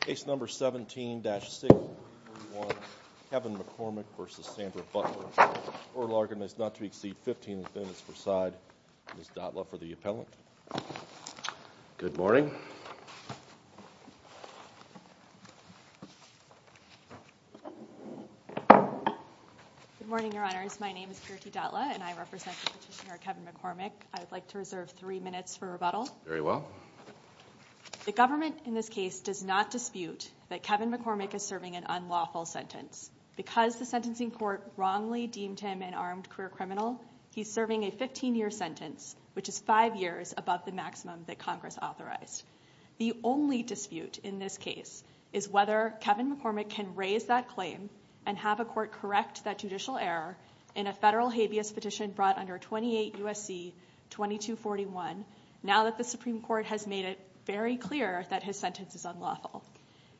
Case number 17-6, Kevin McCormick v. Sandra Butler. Oral argument is not to exceed 15 minutes per side. Ms. Dotla for the appellant. Good morning. Good morning, Your Honors. My name is Kirti Dotla and I represent the petitioner Kevin McCormick. I would like to reserve three minutes for rebuttal. Very well. The government in this case does not dispute that Kevin McCormick is serving an unlawful sentence. Because the sentencing court wrongly deemed him an armed career criminal, he's serving a 15-year sentence, which is five years above the maximum that Congress authorized. The only dispute in this case is whether Kevin McCormick can raise that claim and have a court correct that judicial error in a federal habeas petition brought under 28 U.S.C. 2241 now that the Supreme Court has made it very clear that his sentence is unlawful.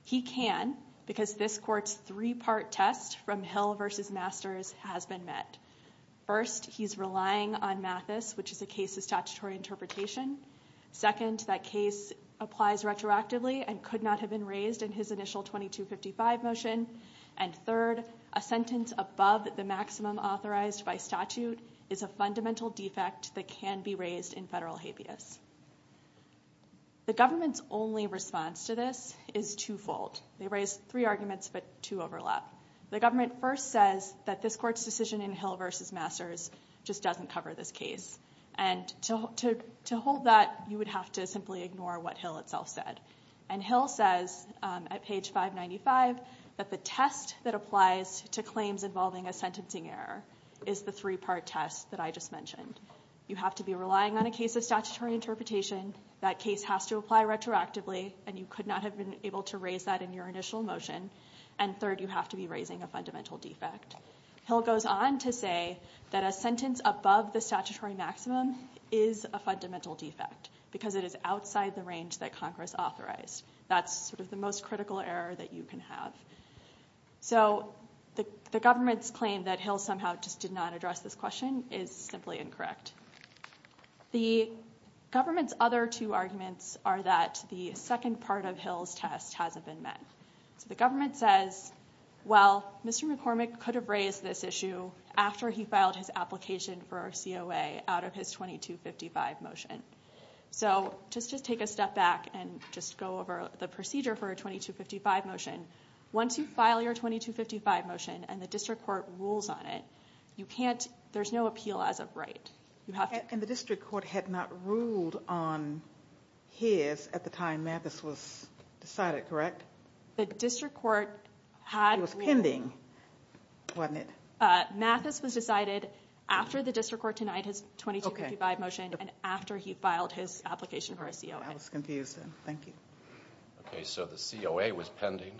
He can because this court's three-part test from Hill v. Masters has been met. First, he's relying on Mathis, which is a case of statutory interpretation. Second, that case applies retroactively and could not have been raised in his initial 2255 motion. And third, a sentence above the maximum authorized by statute is a fundamental defect that can be raised in federal habeas. The government's only response to this is twofold. They raised three arguments, but two overlap. The government first says that this court's decision in Hill v. Masters just doesn't cover this case. And to hold that, you would have to simply ignore what Hill itself said. And Hill says at page 595 that the test that applies to claims involving a sentencing error is the three-part test that I just mentioned. You have to be relying on a case of statutory interpretation. That case has to apply retroactively, and you could not have been able to raise that in your initial motion. And third, you have to be raising a fundamental defect. Hill goes on to say that a sentence above the statutory maximum is a fundamental defect because it is outside the range that Congress authorized. That's sort of the most critical error that you can have. So the government's claim that Hill somehow just did not address this question is simply incorrect. The government's other two arguments are that the second part of Hill's test hasn't been met. So the government says, well, Mr. McCormick could have raised this issue after he filed his application for COA out of his 2255 motion. So just take a step back and just go over the procedure for a 2255 motion. Once you file your 2255 motion and the district court rules on it, there's no appeal as of right. And the district court had not ruled on his at the time Mathis was decided, correct? The district court had ruled. It was pending, wasn't it? Mathis was decided after the district court denied his 2255 motion and after he filed his application for a COA. I was confused then. Thank you. Okay, so the COA was pending.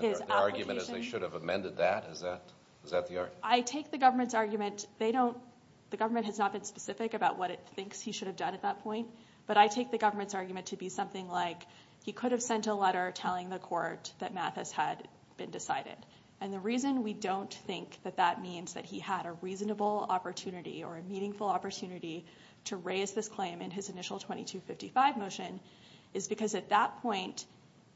The argument is they should have amended that. Is that the argument? So I take the government's argument. The government has not been specific about what it thinks he should have done at that point. But I take the government's argument to be something like he could have sent a letter telling the court that Mathis had been decided. And the reason we don't think that that means that he had a reasonable opportunity or a meaningful opportunity to raise this claim in his initial 2255 motion is because at that point,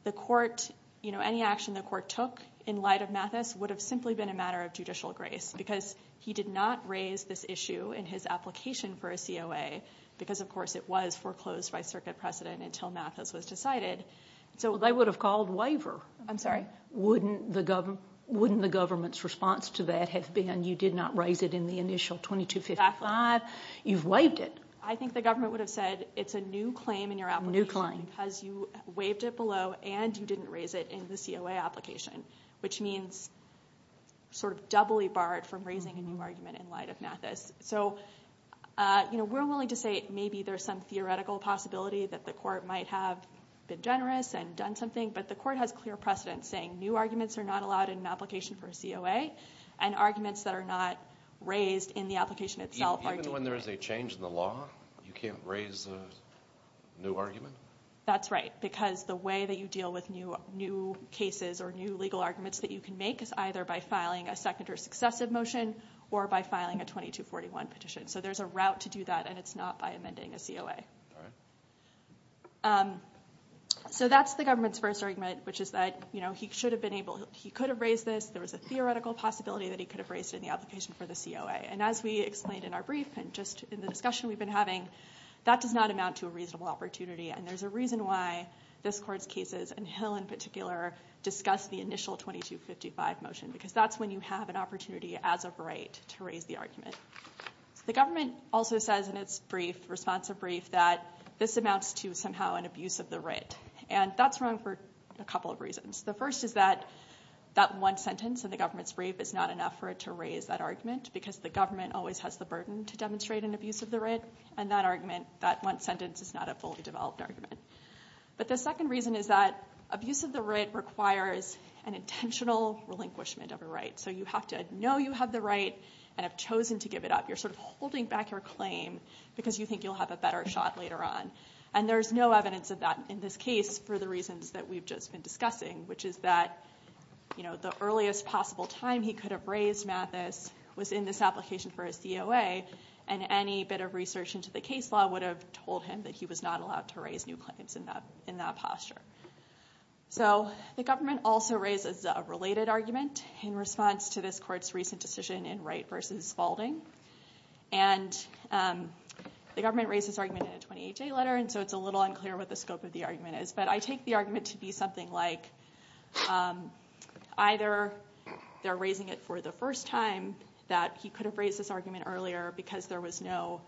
any action the court took in light of Mathis would have simply been a matter of judicial grace because he did not raise this issue in his application for a COA because, of course, it was foreclosed by circuit precedent until Mathis was decided. They would have called waiver. I'm sorry? Wouldn't the government's response to that have been you did not raise it in the initial 2255? Exactly. You've waived it. I think the government would have said it's a new claim in your application because you waived it below and you didn't raise it in the COA application, which means sort of doubly barred from raising a new argument in light of Mathis. So, you know, we're willing to say maybe there's some theoretical possibility that the court might have been generous and done something, but the court has clear precedence saying new arguments are not allowed in an application for a COA and arguments that are not raised in the application itself are debated. So when there is a change in the law, you can't raise a new argument? That's right, because the way that you deal with new cases or new legal arguments that you can make is either by filing a second or successive motion or by filing a 2241 petition. So there's a route to do that, and it's not by amending a COA. All right. So that's the government's first argument, which is that, you know, he could have raised this. There was a theoretical possibility that he could have raised it in the application for the COA. And as we explained in our brief and just in the discussion we've been having, that does not amount to a reasonable opportunity, and there's a reason why this court's cases, and Hill in particular, discuss the initial 2255 motion, because that's when you have an opportunity as a right to raise the argument. The government also says in its brief, responsive brief, that this amounts to somehow an abuse of the writ, and that's wrong for a couple of reasons. The first is that that one sentence in the government's brief is not enough for it to raise that argument because the government always has the burden to demonstrate an abuse of the writ, and that one sentence is not a fully developed argument. But the second reason is that abuse of the writ requires an intentional relinquishment of a right. So you have to know you have the right and have chosen to give it up. You're sort of holding back your claim because you think you'll have a better shot later on, and there's no evidence of that in this case for the reasons that we've just been discussing, which is that the earliest possible time he could have raised Mathis was in this application for a COA, and any bit of research into the case law would have told him that he was not allowed to raise new claims in that posture. So the government also raises a related argument in response to this court's recent decision in Wright v. Spaulding, and the government raised this argument in a 28-day letter, and so it's a little unclear what the scope of the argument is, but I take the argument to be something like either they're raising it for the first time, that he could have raised this argument earlier because there was no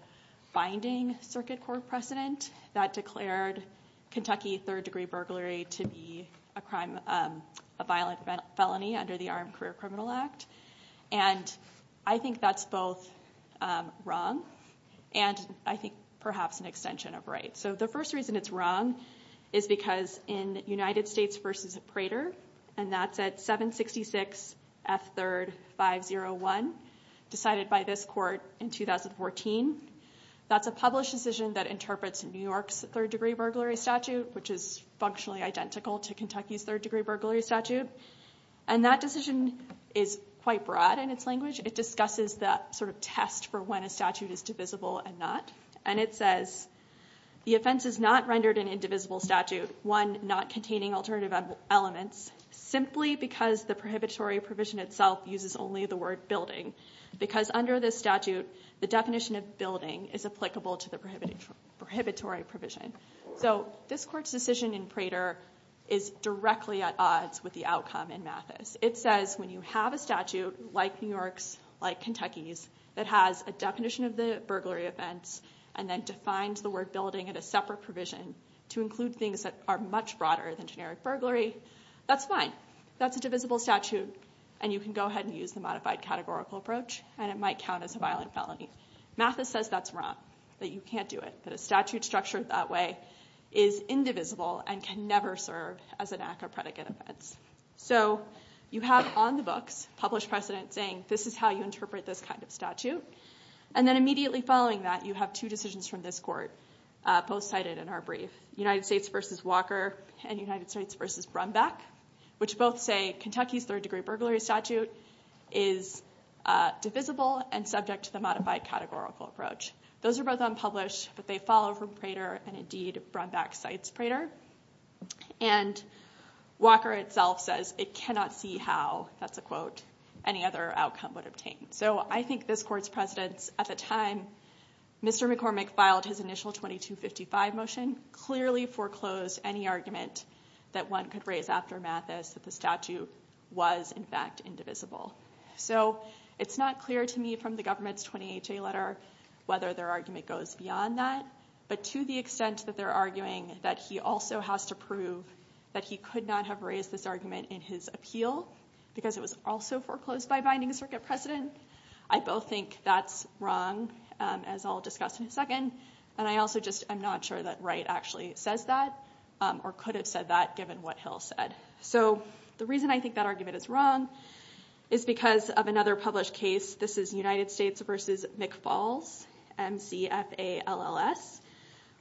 binding circuit court precedent that declared Kentucky third-degree burglary to be a violent felony under the Armed Career Criminal Act, and I think that's both wrong and I think perhaps an extension of Wright. So the first reason it's wrong is because in United States v. Prater, and that's at 766 F. 3rd 501 decided by this court in 2014, that's a published decision that interprets New York's third-degree burglary statute, which is functionally identical to Kentucky's third-degree burglary statute, and that decision is quite broad in its language. It discusses the sort of test for when a statute is divisible and not, and it says the offense is not rendered an indivisible statute, one not containing alternative elements, simply because the prohibitory provision itself uses only the word building, because under this statute the definition of building is applicable to the prohibitory provision. So this court's decision in Prater is directly at odds with the outcome in Mathis. It says when you have a statute like New York's, like Kentucky's, that has a definition of the burglary offense and then defines the word building in a separate provision to include things that are much broader than generic burglary, that's fine. That's a divisible statute, and you can go ahead and use the modified categorical approach, and it might count as a violent felony. Mathis says that's wrong, that you can't do it, that a statute structured that way is indivisible and can never serve as an act of predicate offense. So you have on the books published precedent saying this is how you interpret this kind of statute, and then immediately following that you have two decisions from this court, both cited in our brief, United States v. Walker and United States v. Brumback, which both say Kentucky's third-degree burglary statute is divisible and subject to the modified categorical approach. Those are both unpublished, but they follow from Prater, and indeed Brumback cites Prater. And Walker itself says it cannot see how, that's a quote, any other outcome would obtain. So I think this court's precedence at the time Mr. McCormick filed his initial 2255 motion clearly foreclosed any argument that one could raise after Mathis that the statute was in fact indivisible. So it's not clear to me from the government's 20HA letter whether their argument goes beyond that, but to the extent that they're arguing that he also has to prove that he could not have raised this argument in his appeal because it was also foreclosed by binding circuit precedent, I both think that's wrong, as I'll discuss in a second, and I also just am not sure that Wright actually says that or could have said that given what Hill said. So the reason I think that argument is wrong is because of another published case. This is United States v. McFalls, M-C-F-A-L-L-S,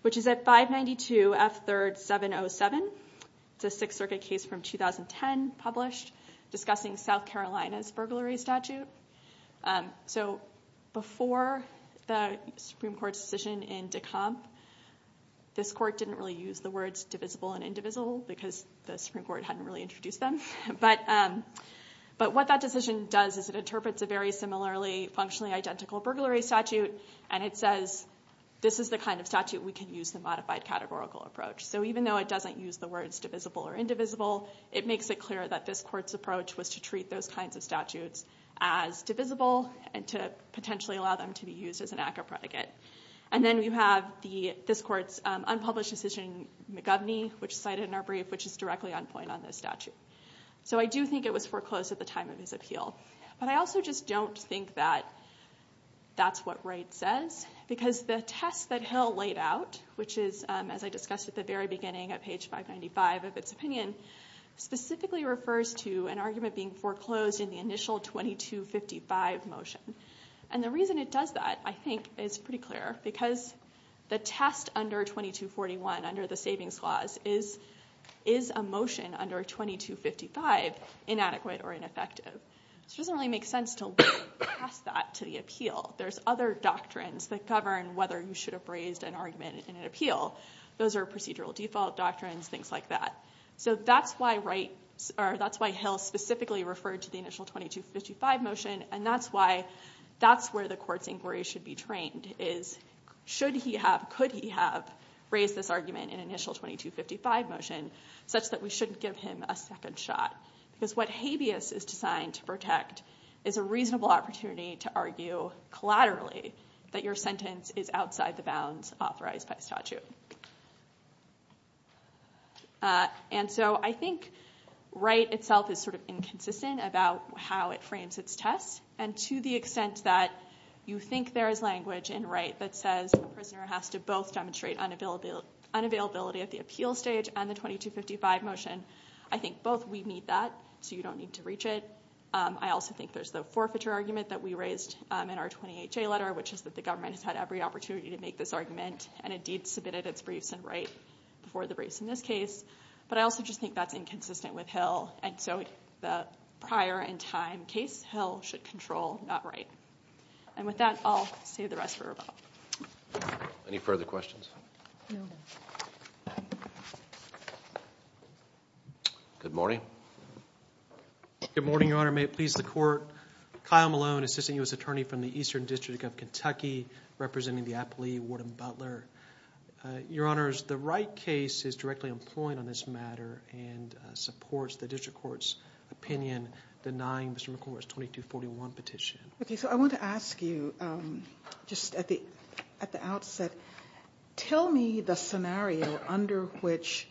which is at 592 F3rd 707. It's a Sixth Circuit case from 2010 published discussing South Carolina's burglary statute. So before the Supreme Court's decision in Decomp, this court didn't really use the words divisible and indivisible because the Supreme Court hadn't really introduced them. But what that decision does is it interprets a very similarly functionally identical burglary statute, and it says this is the kind of statute we can use the modified categorical approach. So even though it doesn't use the words divisible or indivisible, it makes it clear that this court's approach was to treat those kinds of statutes as divisible and to potentially allow them to be used as an act of predicate. And then you have this court's unpublished decision in McGoverny, which is cited in our brief, which is directly on point on this statute. So I do think it was foreclosed at the time of his appeal. But I also just don't think that that's what Wright says because the test that Hill laid out, which is, as I discussed at the very beginning at page 595 of its opinion, specifically refers to an argument being foreclosed in the initial 2255 motion. And the reason it does that, I think, is pretty clear because the test under 2241, under the Savings Clause, is a motion under 2255 inadequate or ineffective. So it doesn't really make sense to look past that to the appeal. There's other doctrines that govern whether you should have raised an argument in an appeal. Those are procedural default doctrines, things like that. So that's why Hill specifically referred to the initial 2255 motion, and that's why that's where the court's inquiry should be trained is should he have, could he have raised this argument in initial 2255 motion such that we shouldn't give him a second shot. Because what habeas is designed to protect is a reasonable opportunity to argue collaterally that your sentence is outside the bounds authorized by the statute. And so I think Wright itself is sort of inconsistent about how it frames its test. And to the extent that you think there is language in Wright that says a prisoner has to both demonstrate unavailability at the appeal stage and the 2255 motion, I think both we need that, so you don't need to reach it. I also think there's the forfeiture argument that we raised in our 20HA letter, which is that the government has had every opportunity to make this argument and indeed submitted its briefs in Wright before the briefs in this case. But I also just think that's inconsistent with Hill, and so the prior in time case, Hill should control, not Wright. And with that, I'll save the rest for tomorrow. Any further questions? Good morning. Good morning, Your Honor. May it please the Court. Kyle Malone, Assistant U.S. Attorney from the Eastern District of Kentucky, representing the appellee Warden Butler. Your Honors, the Wright case is directly on point on this matter and supports the district court's opinion denying Mr. McCormick's 2241 petition. Okay, so I want to ask you just at the outset, tell me the scenario under which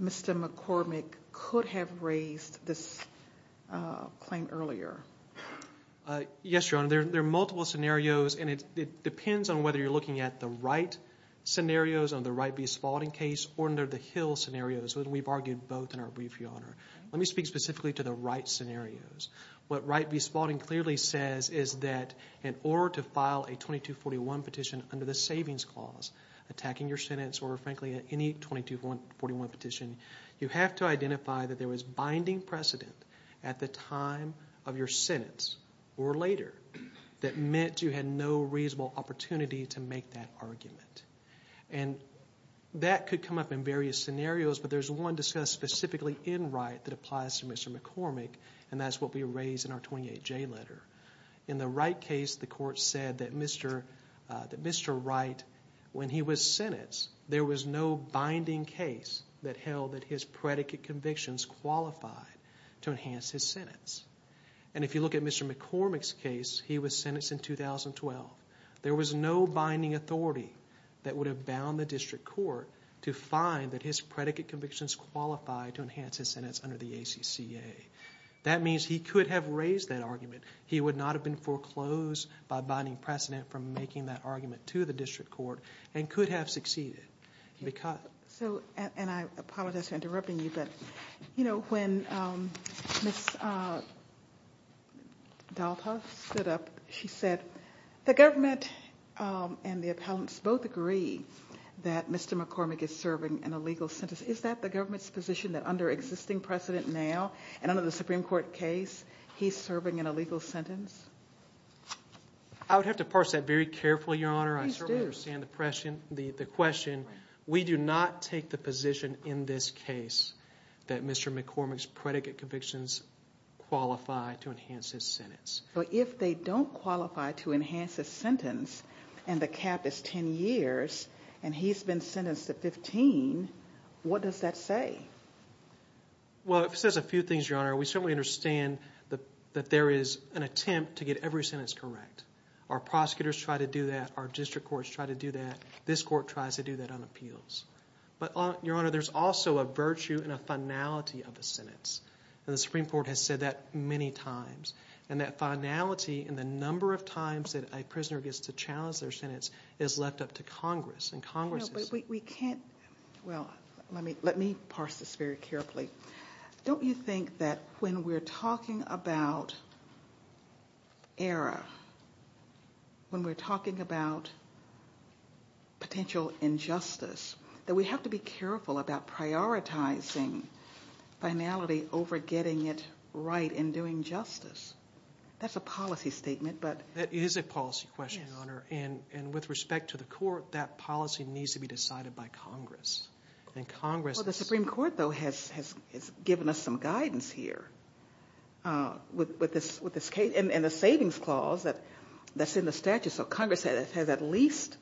Mr. McCormick could have raised this claim earlier. Yes, Your Honor, there are multiple scenarios, and it depends on whether you're looking at the Wright scenarios on the Wright v. Spalding case or under the Hill scenarios. We've argued both in our brief, Your Honor. Let me speak specifically to the Wright scenarios. What Wright v. Spalding clearly says is that in order to file a 2241 petition under the Savings Clause, attacking your sentence or, frankly, any 2241 petition, you have to identify that there was binding precedent at the time of your sentence or later that meant you had no reasonable opportunity to make that argument. And that could come up in various scenarios, but there's one discussed specifically in Wright that applies to Mr. McCormick, and that's what we raised in our 28J letter. In the Wright case, the court said that Mr. Wright, when he was sentenced, there was no binding case that held that his predicate convictions qualified to enhance his sentence. And if you look at Mr. McCormick's case, he was sentenced in 2012. There was no binding authority that would have bound the district court to find that his predicate convictions qualified to enhance his sentence under the ACCA. That means he could have raised that argument. He would not have been foreclosed by binding precedent from making that argument to the district court and could have succeeded. And I apologize for interrupting you, but when Ms. Dalta stood up, she said, the government and the appellants both agree that Mr. McCormick is serving an illegal sentence. Is that the government's position that under existing precedent now, and under the Supreme Court case, he's serving an illegal sentence? I would have to parse that very carefully, Your Honor. I certainly understand the question. We do not take the position in this case that Mr. McCormick's predicate convictions qualify to enhance his sentence. But if they don't qualify to enhance his sentence and the cap is 10 years and he's been sentenced to 15, what does that say? Well, it says a few things, Your Honor. We certainly understand that there is an attempt to get every sentence correct. Our prosecutors try to do that. Our district courts try to do that. This court tries to do that on appeals. But, Your Honor, there's also a virtue and a finality of the sentence. And the Supreme Court has said that many times. And that finality and the number of times that a prisoner gets to challenge their sentence is left up to Congress. Well, let me parse this very carefully. Don't you think that when we're talking about error, when we're talking about potential injustice, that we have to be careful about prioritizing finality over getting it right and doing justice? That's a policy statement. That is a policy question, Your Honor. And with respect to the court, that policy needs to be decided by Congress. Well, the Supreme Court, though, has given us some guidance here with this case and the savings clause that's in the statute. So Congress has at least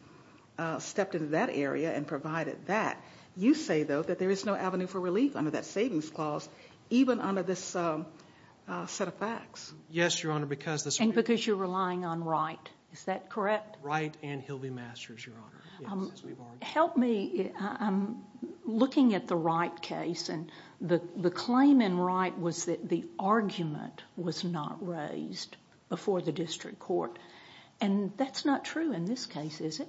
stepped into that area and provided that. You say, though, that there is no avenue for relief under that savings clause, even under this set of facts. Yes, Your Honor. And because you're relying on right. Is that correct? Right, and he'll be masters, Your Honor. Help me. I'm looking at the Wright case, and the claim in Wright was that the argument was not raised before the district court. And that's not true in this case, is it?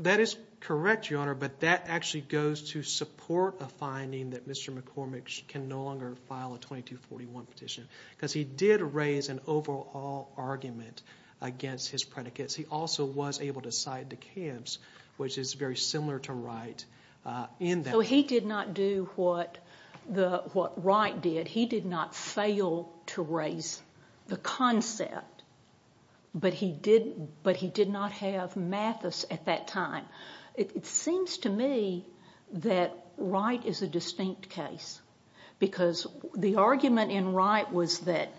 That is correct, Your Honor, but that actually goes to support a finding that Mr. McCormick can no longer file a 2241 petition because he did raise an overall argument against his predicates. He also was able to cite DeKalb's, which is very similar to Wright, in that. So he did not do what Wright did. He did not fail to raise the concept, but he did not have Mathis at that time. It seems to me that Wright is a distinct case because the argument in Wright was that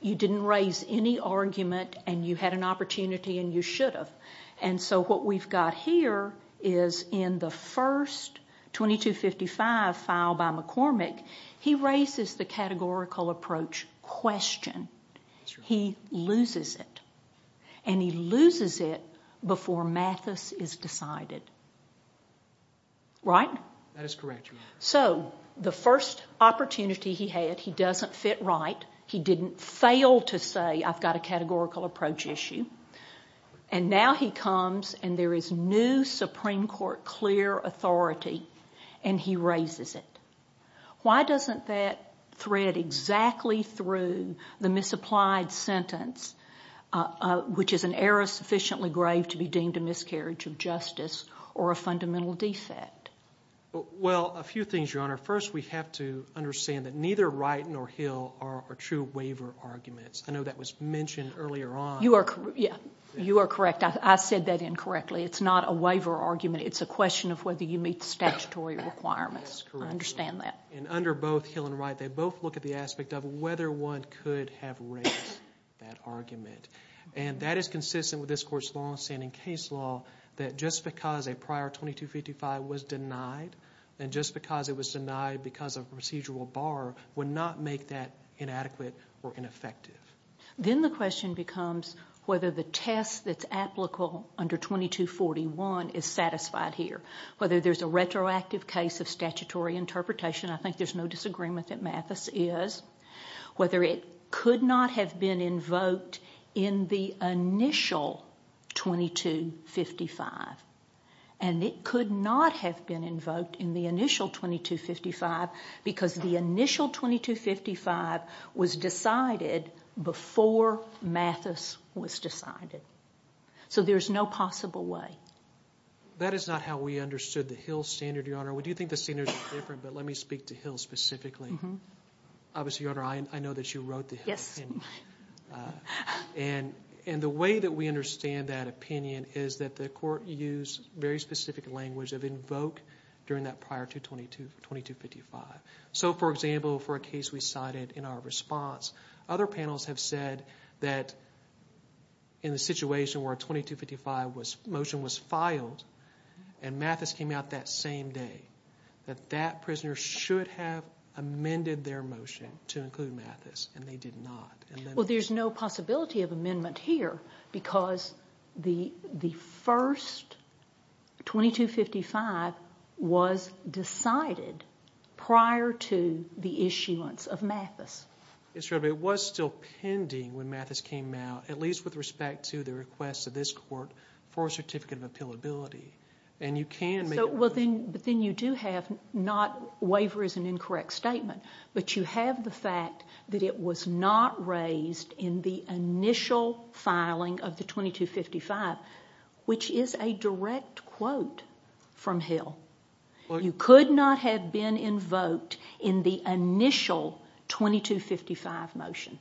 you didn't raise any argument and you had an opportunity and you should have. And so what we've got here is in the first 2255 filed by McCormick, he raises the categorical approach question. He loses it. And he loses it before Mathis is decided. Right? That is correct, Your Honor. So the first opportunity he had, he doesn't fit Wright. He didn't fail to say, I've got a categorical approach issue. And now he comes and there is new Supreme Court clear authority, and he raises it. Why doesn't that thread exactly through the misapplied sentence, which is an error sufficiently grave to be deemed a miscarriage of justice or a fundamental defect? Well, a few things, Your Honor. First, we have to understand that neither Wright nor Hill are true waiver arguments. I know that was mentioned earlier on. You are correct. I said that incorrectly. It's not a waiver argument. It's a question of whether you meet statutory requirements. I understand that. And under both Hill and Wright, they both look at the aspect of whether one could have raised that argument. And that is consistent with this Court's longstanding case law that just because a prior 2255 was denied and just because it was denied because of procedural bar would not make that inadequate or ineffective. Then the question becomes whether the test that's applicable under 2241 is satisfied here, whether there's a retroactive case of statutory interpretation. I think there's no disagreement that Mathis is. Whether it could not have been invoked in the initial 2255. And it could not have been invoked in the initial 2255 because the initial 2255 was decided before Mathis was decided. So there's no possible way. That is not how we understood the Hill standard, Your Honor. We do think the standards are different, but let me speak to Hill specifically. Obviously, Your Honor, I know that you wrote the Hill opinion. And the way that we understand that opinion is that the Court used very specific language of invoke during that prior 2255. So, for example, for a case we cited in our response, other panels have said that in the situation where a 2255 motion was filed and Mathis came out that same day, that that prisoner should have amended their motion to include Mathis. And they did not. Well, there's no possibility of amendment here because the first 2255 was decided prior to the issuance of Mathis. Yes, Your Honor, but it was still pending when Mathis came out, at least with respect to the request of this Court for a certificate of appealability. And you can make a request. But then you do have not waiver as an incorrect statement, but you have the fact that it was not raised in the initial filing of the 2255, which is a direct quote from Hill. You could not have been invoked in the initial 2255 motion.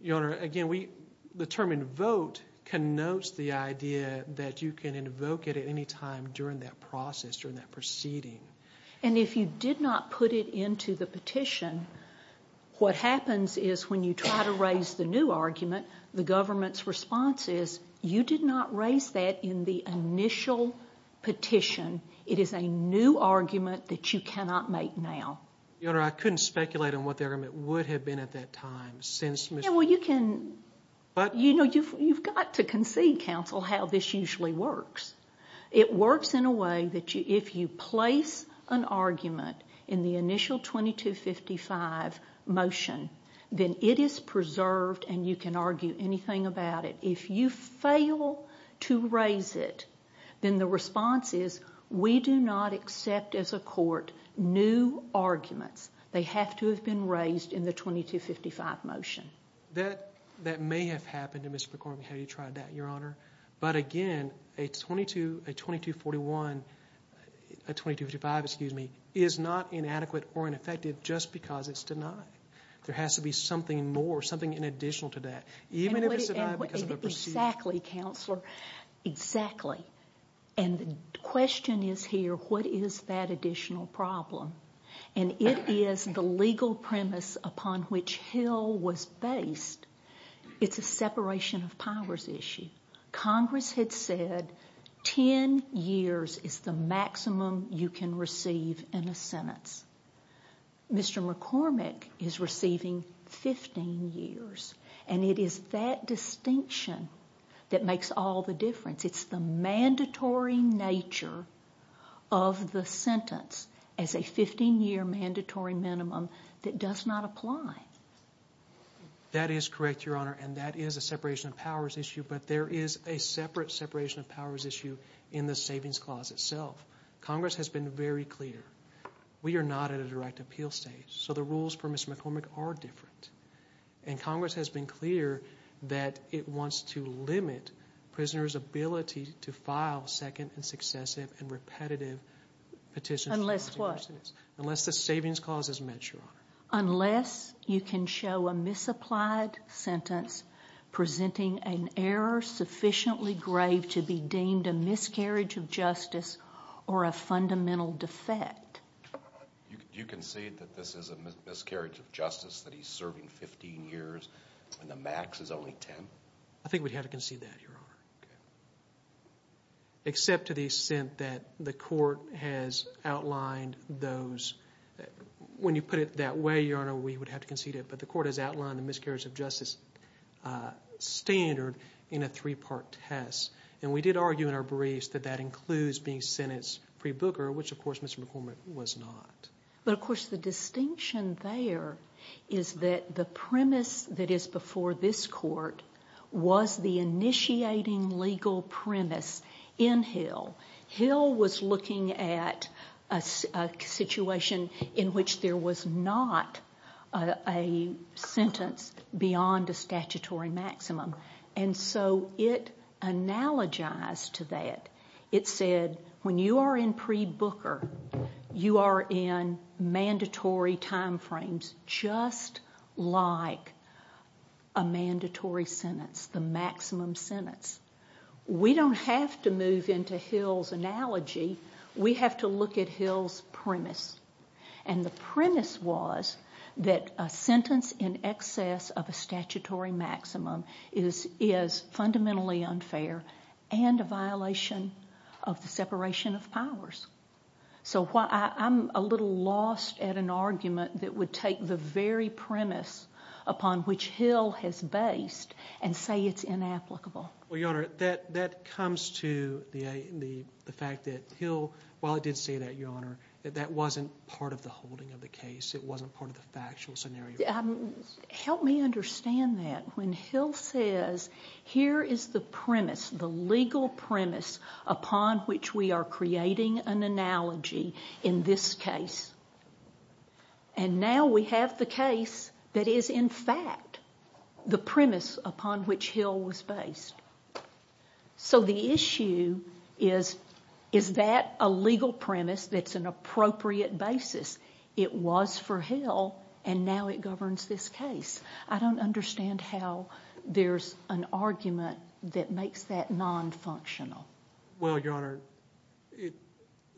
Your Honor, again, the term invoke connotes the idea that you can invoke it at any time during that process, during that proceeding. And if you did not put it into the petition, what happens is when you try to raise the new argument, the government's response is you did not raise that in the initial petition. It is a new argument that you cannot make now. Your Honor, I couldn't speculate on what the argument would have been at that time. Well, you've got to concede, counsel, how this usually works. It works in a way that if you place an argument in the initial 2255 motion, then it is preserved and you can argue anything about it. If you fail to raise it, then the response is we do not accept as a court new arguments. They have to have been raised in the 2255 motion. That may have happened to Mr. McCormick. Have you tried that, Your Honor? But again, a 2251, a 2255, excuse me, is not inadequate or ineffective just because it's denied. There has to be something more, something in addition to that. Even if it's denied because of a procedure. Exactly, Counselor, exactly. And the question is here, what is that additional problem? And it is the legal premise upon which Hill was based. It's a separation of powers issue. Congress had said 10 years is the maximum you can receive in a sentence. Mr. McCormick is receiving 15 years. And it is that distinction that makes all the difference. It's the mandatory nature of the sentence as a 15-year mandatory minimum that does not apply. That is correct, Your Honor, and that is a separation of powers issue. But there is a separate separation of powers issue in the savings clause itself. Congress has been very clear. We are not at a direct appeal stage. So the rules for Mr. McCormick are different. And Congress has been clear that it wants to limit prisoners' ability to file second and successive and repetitive petitions. Unless what? Unless the savings clause is met, Your Honor. Unless you can show a misapplied sentence presenting an error sufficiently grave to be deemed a miscarriage of justice or a fundamental defect. Do you concede that this is a miscarriage of justice, that he's serving 15 years when the max is only 10? I think we'd have to concede that, Your Honor. Okay. But the court has outlined the miscarriage of justice standard in a three-part test. And we did argue in our briefs that that includes being sentenced pre-Booker, which, of course, Mr. McCormick was not. But, of course, the distinction there is that the premise that is before this court was the initiating legal premise in Hill. Hill was looking at a situation in which there was not a sentence beyond a statutory maximum. And so it analogized to that. It said, when you are in pre-Booker, you are in mandatory time frames just like a mandatory sentence, the maximum sentence. We don't have to move into Hill's analogy. We have to look at Hill's premise. And the premise was that a sentence in excess of a statutory maximum is fundamentally unfair and a violation of the separation of powers. So I'm a little lost at an argument that would take the very premise upon which Hill has based and say it's inapplicable. Well, Your Honor, that comes to the fact that Hill, while it did say that, Your Honor, that that wasn't part of the holding of the case. It wasn't part of the factual scenario. Help me understand that. When Hill says, here is the premise, the legal premise upon which we are creating an analogy in this case, and now we have the case that is, in fact, the premise upon which Hill was based. So the issue is, is that a legal premise that's an appropriate basis? It was for Hill, and now it governs this case. I don't understand how there's an argument that makes that nonfunctional. Well, Your Honor,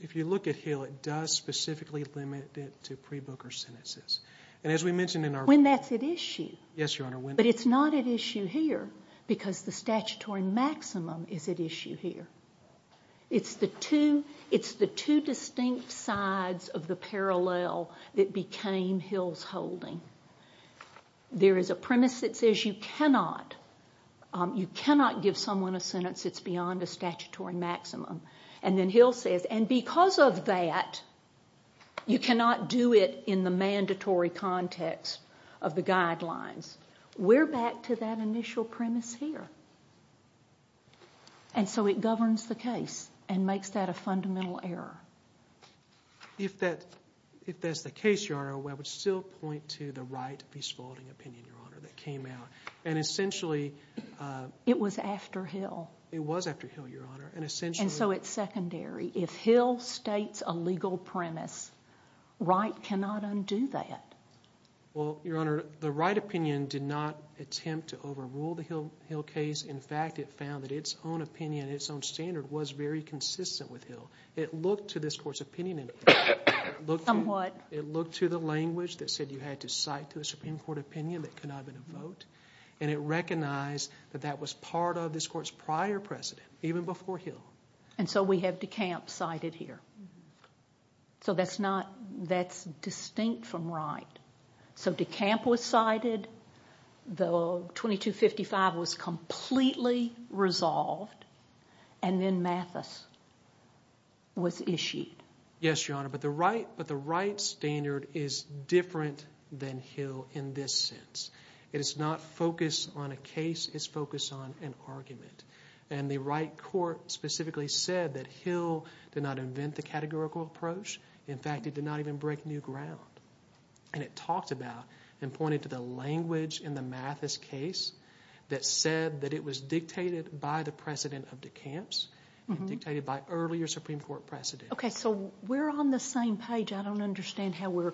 if you look at Hill, it does specifically limit it to pre-Booker sentences. When that's at issue. Yes, Your Honor. But it's not at issue here because the statutory maximum is at issue here. It's the two distinct sides of the parallel that became Hill's holding. There is a premise that says you cannot give someone a sentence that's beyond a statutory maximum. And then Hill says, and because of that, you cannot do it in the mandatory context of the guidelines. We're back to that initial premise here. And so it governs the case and makes that a fundamental error. If that's the case, Your Honor, I would still point to the Wright v. Spalding opinion, Your Honor, that came out. And essentially— It was after Hill. It was after Hill, Your Honor, and essentially— And so it's secondary. If Hill states a legal premise, Wright cannot undo that. Well, Your Honor, the Wright opinion did not attempt to overrule the Hill case. In fact, it found that its own opinion, its own standard was very consistent with Hill. It looked to this Court's opinion. Somewhat. It looked to the language that said you had to cite to a Supreme Court opinion that could not have been a vote. And it recognized that that was part of this Court's prior precedent, even before Hill. And so we have DeCamp cited here. So that's distinct from Wright. So DeCamp was cited. The 2255 was completely resolved. And then Mathis was issued. Yes, Your Honor, but the Wright standard is different than Hill in this sense. It is not focused on a case. It's focused on an argument. And the Wright court specifically said that Hill did not invent the categorical approach. In fact, it did not even break new ground. And it talked about and pointed to the language in the Mathis case that said that it was dictated by the precedent of DeCamp's and dictated by earlier Supreme Court precedent. Okay, so we're on the same page. I don't understand how we're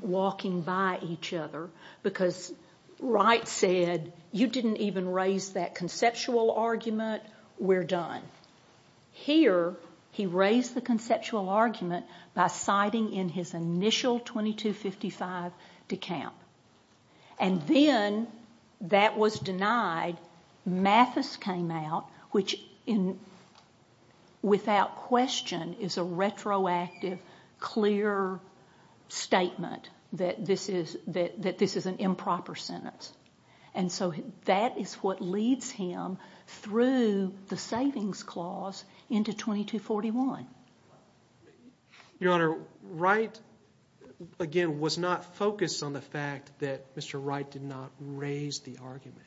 walking by each other. Because Wright said, you didn't even raise that conceptual argument. We're done. Here, he raised the conceptual argument by citing in his initial 2255 DeCamp. And then that was denied. Mathis came out, which without question is a retroactive, clear statement that this is an improper sentence. And so that is what leads him through the Savings Clause into 2241. Your Honor, Wright, again, was not focused on the fact that Mr. Wright did not raise the argument.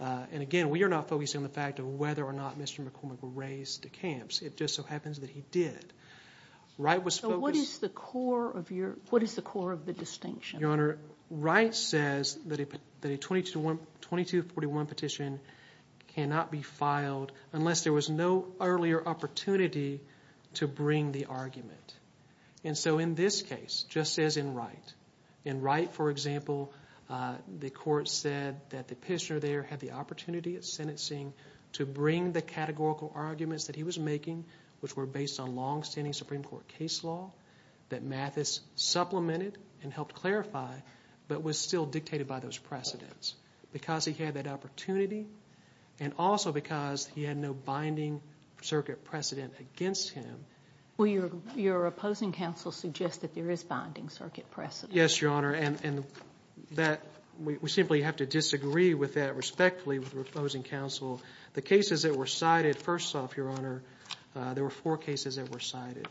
And again, we are not focused on the fact of whether or not Mr. McCormick raised DeCamp's. It just so happens that he did. So what is the core of the distinction? Your Honor, Wright says that a 2241 petition cannot be filed unless there was no earlier opportunity to bring the argument. And so in this case, just as in Wright, in Wright, for example, the court said that the petitioner there had the opportunity at sentencing to bring the categorical arguments that he was making, which were based on longstanding Supreme Court case law that Mathis supplemented and helped clarify, but was still dictated by those precedents. Because he had that opportunity and also because he had no binding circuit precedent against him. Well, your opposing counsel suggests that there is binding circuit precedent. Yes, Your Honor. And we simply have to disagree with that respectfully with the opposing counsel. The cases that were cited, first off, Your Honor, there were four cases that were cited.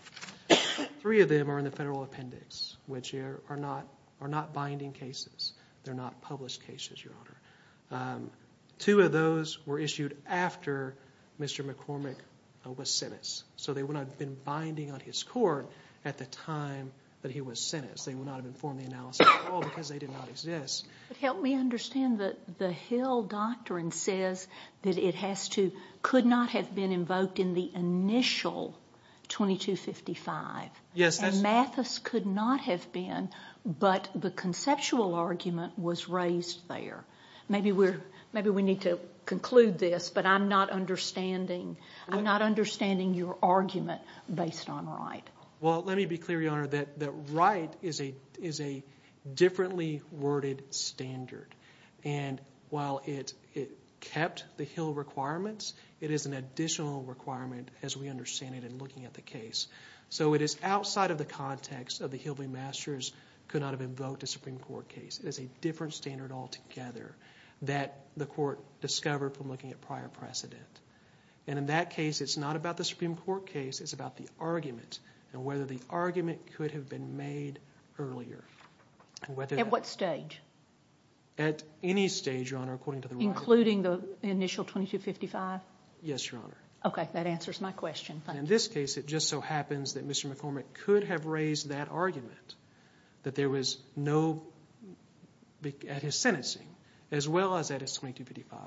Three of them are in the federal appendix, which are not binding cases. They're not published cases, Your Honor. Two of those were issued after Mr. McCormick was sentenced. So they would not have been binding on his court at the time that he was sentenced. They would not have informed the analysis at all because they did not exist. Help me understand that the Hill Doctrine says that it could not have been invoked in the initial 2255. Yes. And Mathis could not have been, but the conceptual argument was raised there. Maybe we need to conclude this, but I'm not understanding your argument based on Wright. Well, let me be clear, Your Honor, that Wright is a differently worded standard. And while it kept the Hill requirements, it is an additional requirement as we understand it in looking at the case. So it is outside of the context of the Hill v. Masters could not have invoked a Supreme Court case. It is a different standard altogether that the court discovered from looking at prior precedent. And in that case, it's not about the Supreme Court case. It's about the argument and whether the argument could have been made earlier. At what stage? At any stage, Your Honor, according to the Wright. Including the initial 2255? Yes, Your Honor. Okay, that answers my question. Thank you. In this case, it just so happens that Mr. McCormick could have raised that argument, that there was no – at his sentencing, as well as at his 2255,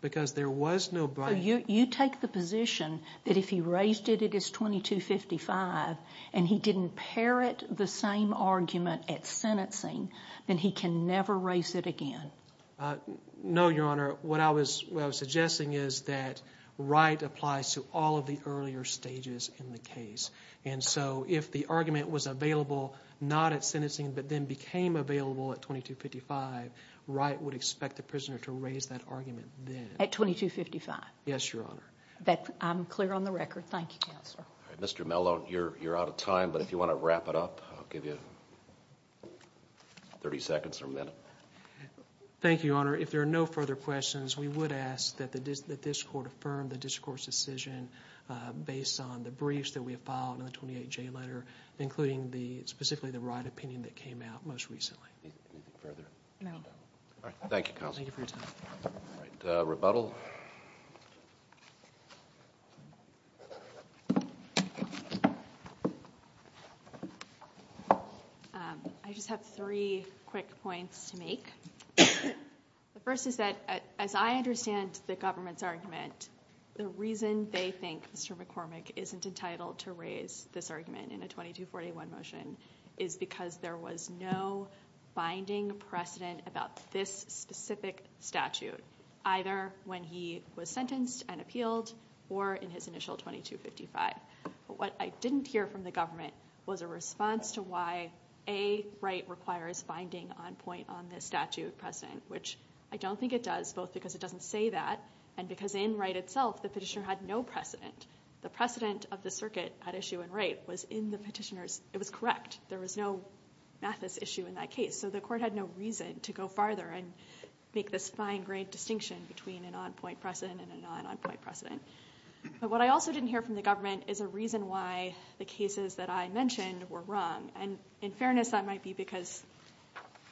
because there was no – You take the position that if he raised it at his 2255 and he didn't parrot the same argument at sentencing, then he can never raise it again. No, Your Honor. What I was suggesting is that Wright applies to all of the earlier stages in the case. And so if the argument was available not at sentencing but then became available at 2255, Wright would expect the prisoner to raise that argument then. At 2255? Yes, Your Honor. I'm clear on the record. Thank you, Counselor. Mr. Mellon, you're out of time, but if you want to wrap it up, I'll give you 30 seconds or a minute. Thank you, Your Honor. If there are no further questions, we would ask that this court affirm the discourse decision based on the briefs that we have filed in the 28J letter, including specifically the Wright opinion that came out most recently. Anything further? No. All right. Thank you, Counselor. Thank you for your time. Rebuttal. I just have three quick points to make. The first is that as I understand the government's argument, the reason they think Mr. McCormick isn't entitled to raise this argument in a 2241 motion is because there was no binding precedent about this specific statute, either when he was sentenced and appealed or in his initial 2255. But what I didn't hear from the government was a response to why a right requires finding on point on this statute precedent, which I don't think it does both because it doesn't say that and because in Wright itself the petitioner had no precedent. The precedent of the circuit at issue in Wright was in the petitioner's. It was correct. There was no mathis issue in that case, so the court had no reason to go farther and make this fine grained distinction between an on point precedent and a non on point precedent. But what I also didn't hear from the government is a reason why the cases that I mentioned were wrong. And in fairness that might be because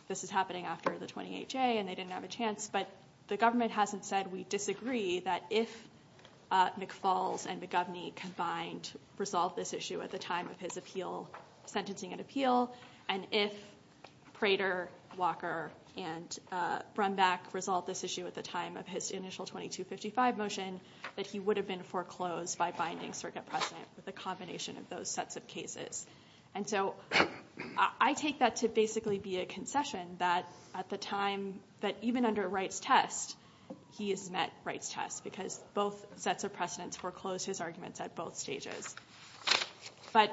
this is happening after the 28-J and they didn't have a chance, but the government hasn't said we disagree that if McFalls and McGovney combined resolved this issue at the time of his appeal, sentencing and appeal, and if Prater, Walker, and Brumback resolved this issue at the time of his initial 2255 motion, that he would have been foreclosed by binding circuit precedent with a combination of those sets of cases. And so I take that to basically be a concession that at the time, that even under Wright's test, he has met Wright's test because both sets of precedents foreclosed his arguments at both stages. But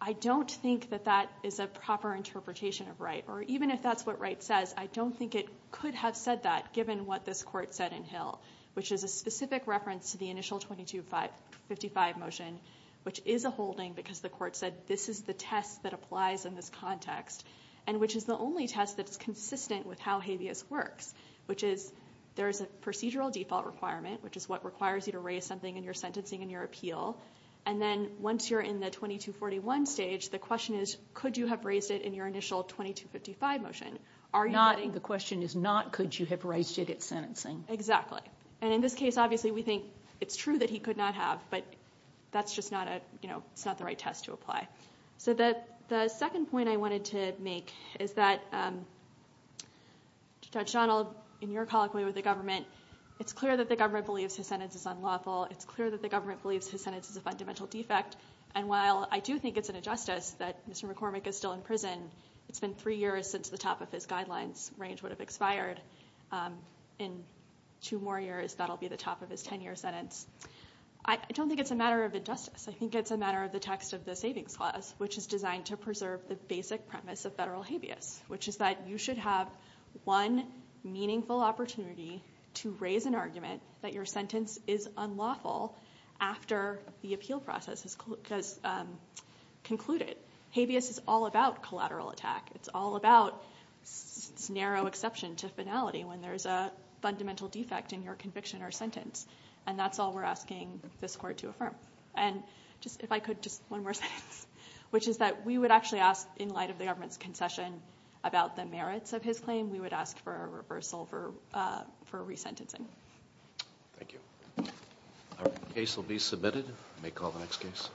I don't think that that is a proper interpretation of Wright or even if that's what Wright says, I don't think it could have said that given what this court said in Hill, which is a specific reference to the initial 2255 motion, which is a holding because the court said this is the test that applies in this context, and which is the only test that's consistent with how habeas works, which is there's a procedural default requirement, which is what requires you to raise something in your sentencing and your appeal. And then once you're in the 2241 stage, the question is, could you have raised it in your initial 2255 motion? The question is not could you have raised it at sentencing. Exactly. And in this case, obviously, we think it's true that he could not have, but that's just not the right test to apply. So the second point I wanted to make is that Judge Donald, in your colloquy with the government, it's clear that the government believes his sentence is unlawful. It's clear that the government believes his sentence is a fundamental defect. And while I do think it's an injustice that Mr. McCormick is still in prison, it's been three years since the top of his guidelines range would have expired. In two more years, that will be the top of his 10-year sentence. I don't think it's a matter of injustice. I think it's a matter of the text of the Savings Clause, which is designed to preserve the basic premise of federal habeas, which is that you should have one meaningful opportunity to raise an argument that your sentence is unlawful after the appeal process has concluded. Habeas is all about collateral attack. It's all about this narrow exception to finality when there's a fundamental defect in your conviction or sentence. And that's all we're asking this court to affirm. And if I could, just one more sentence, which is that we would actually ask, in light of the government's concession, about the merits of his claim, we would ask for a reversal for resentencing. Thank you. The case will be submitted. We may call the next case.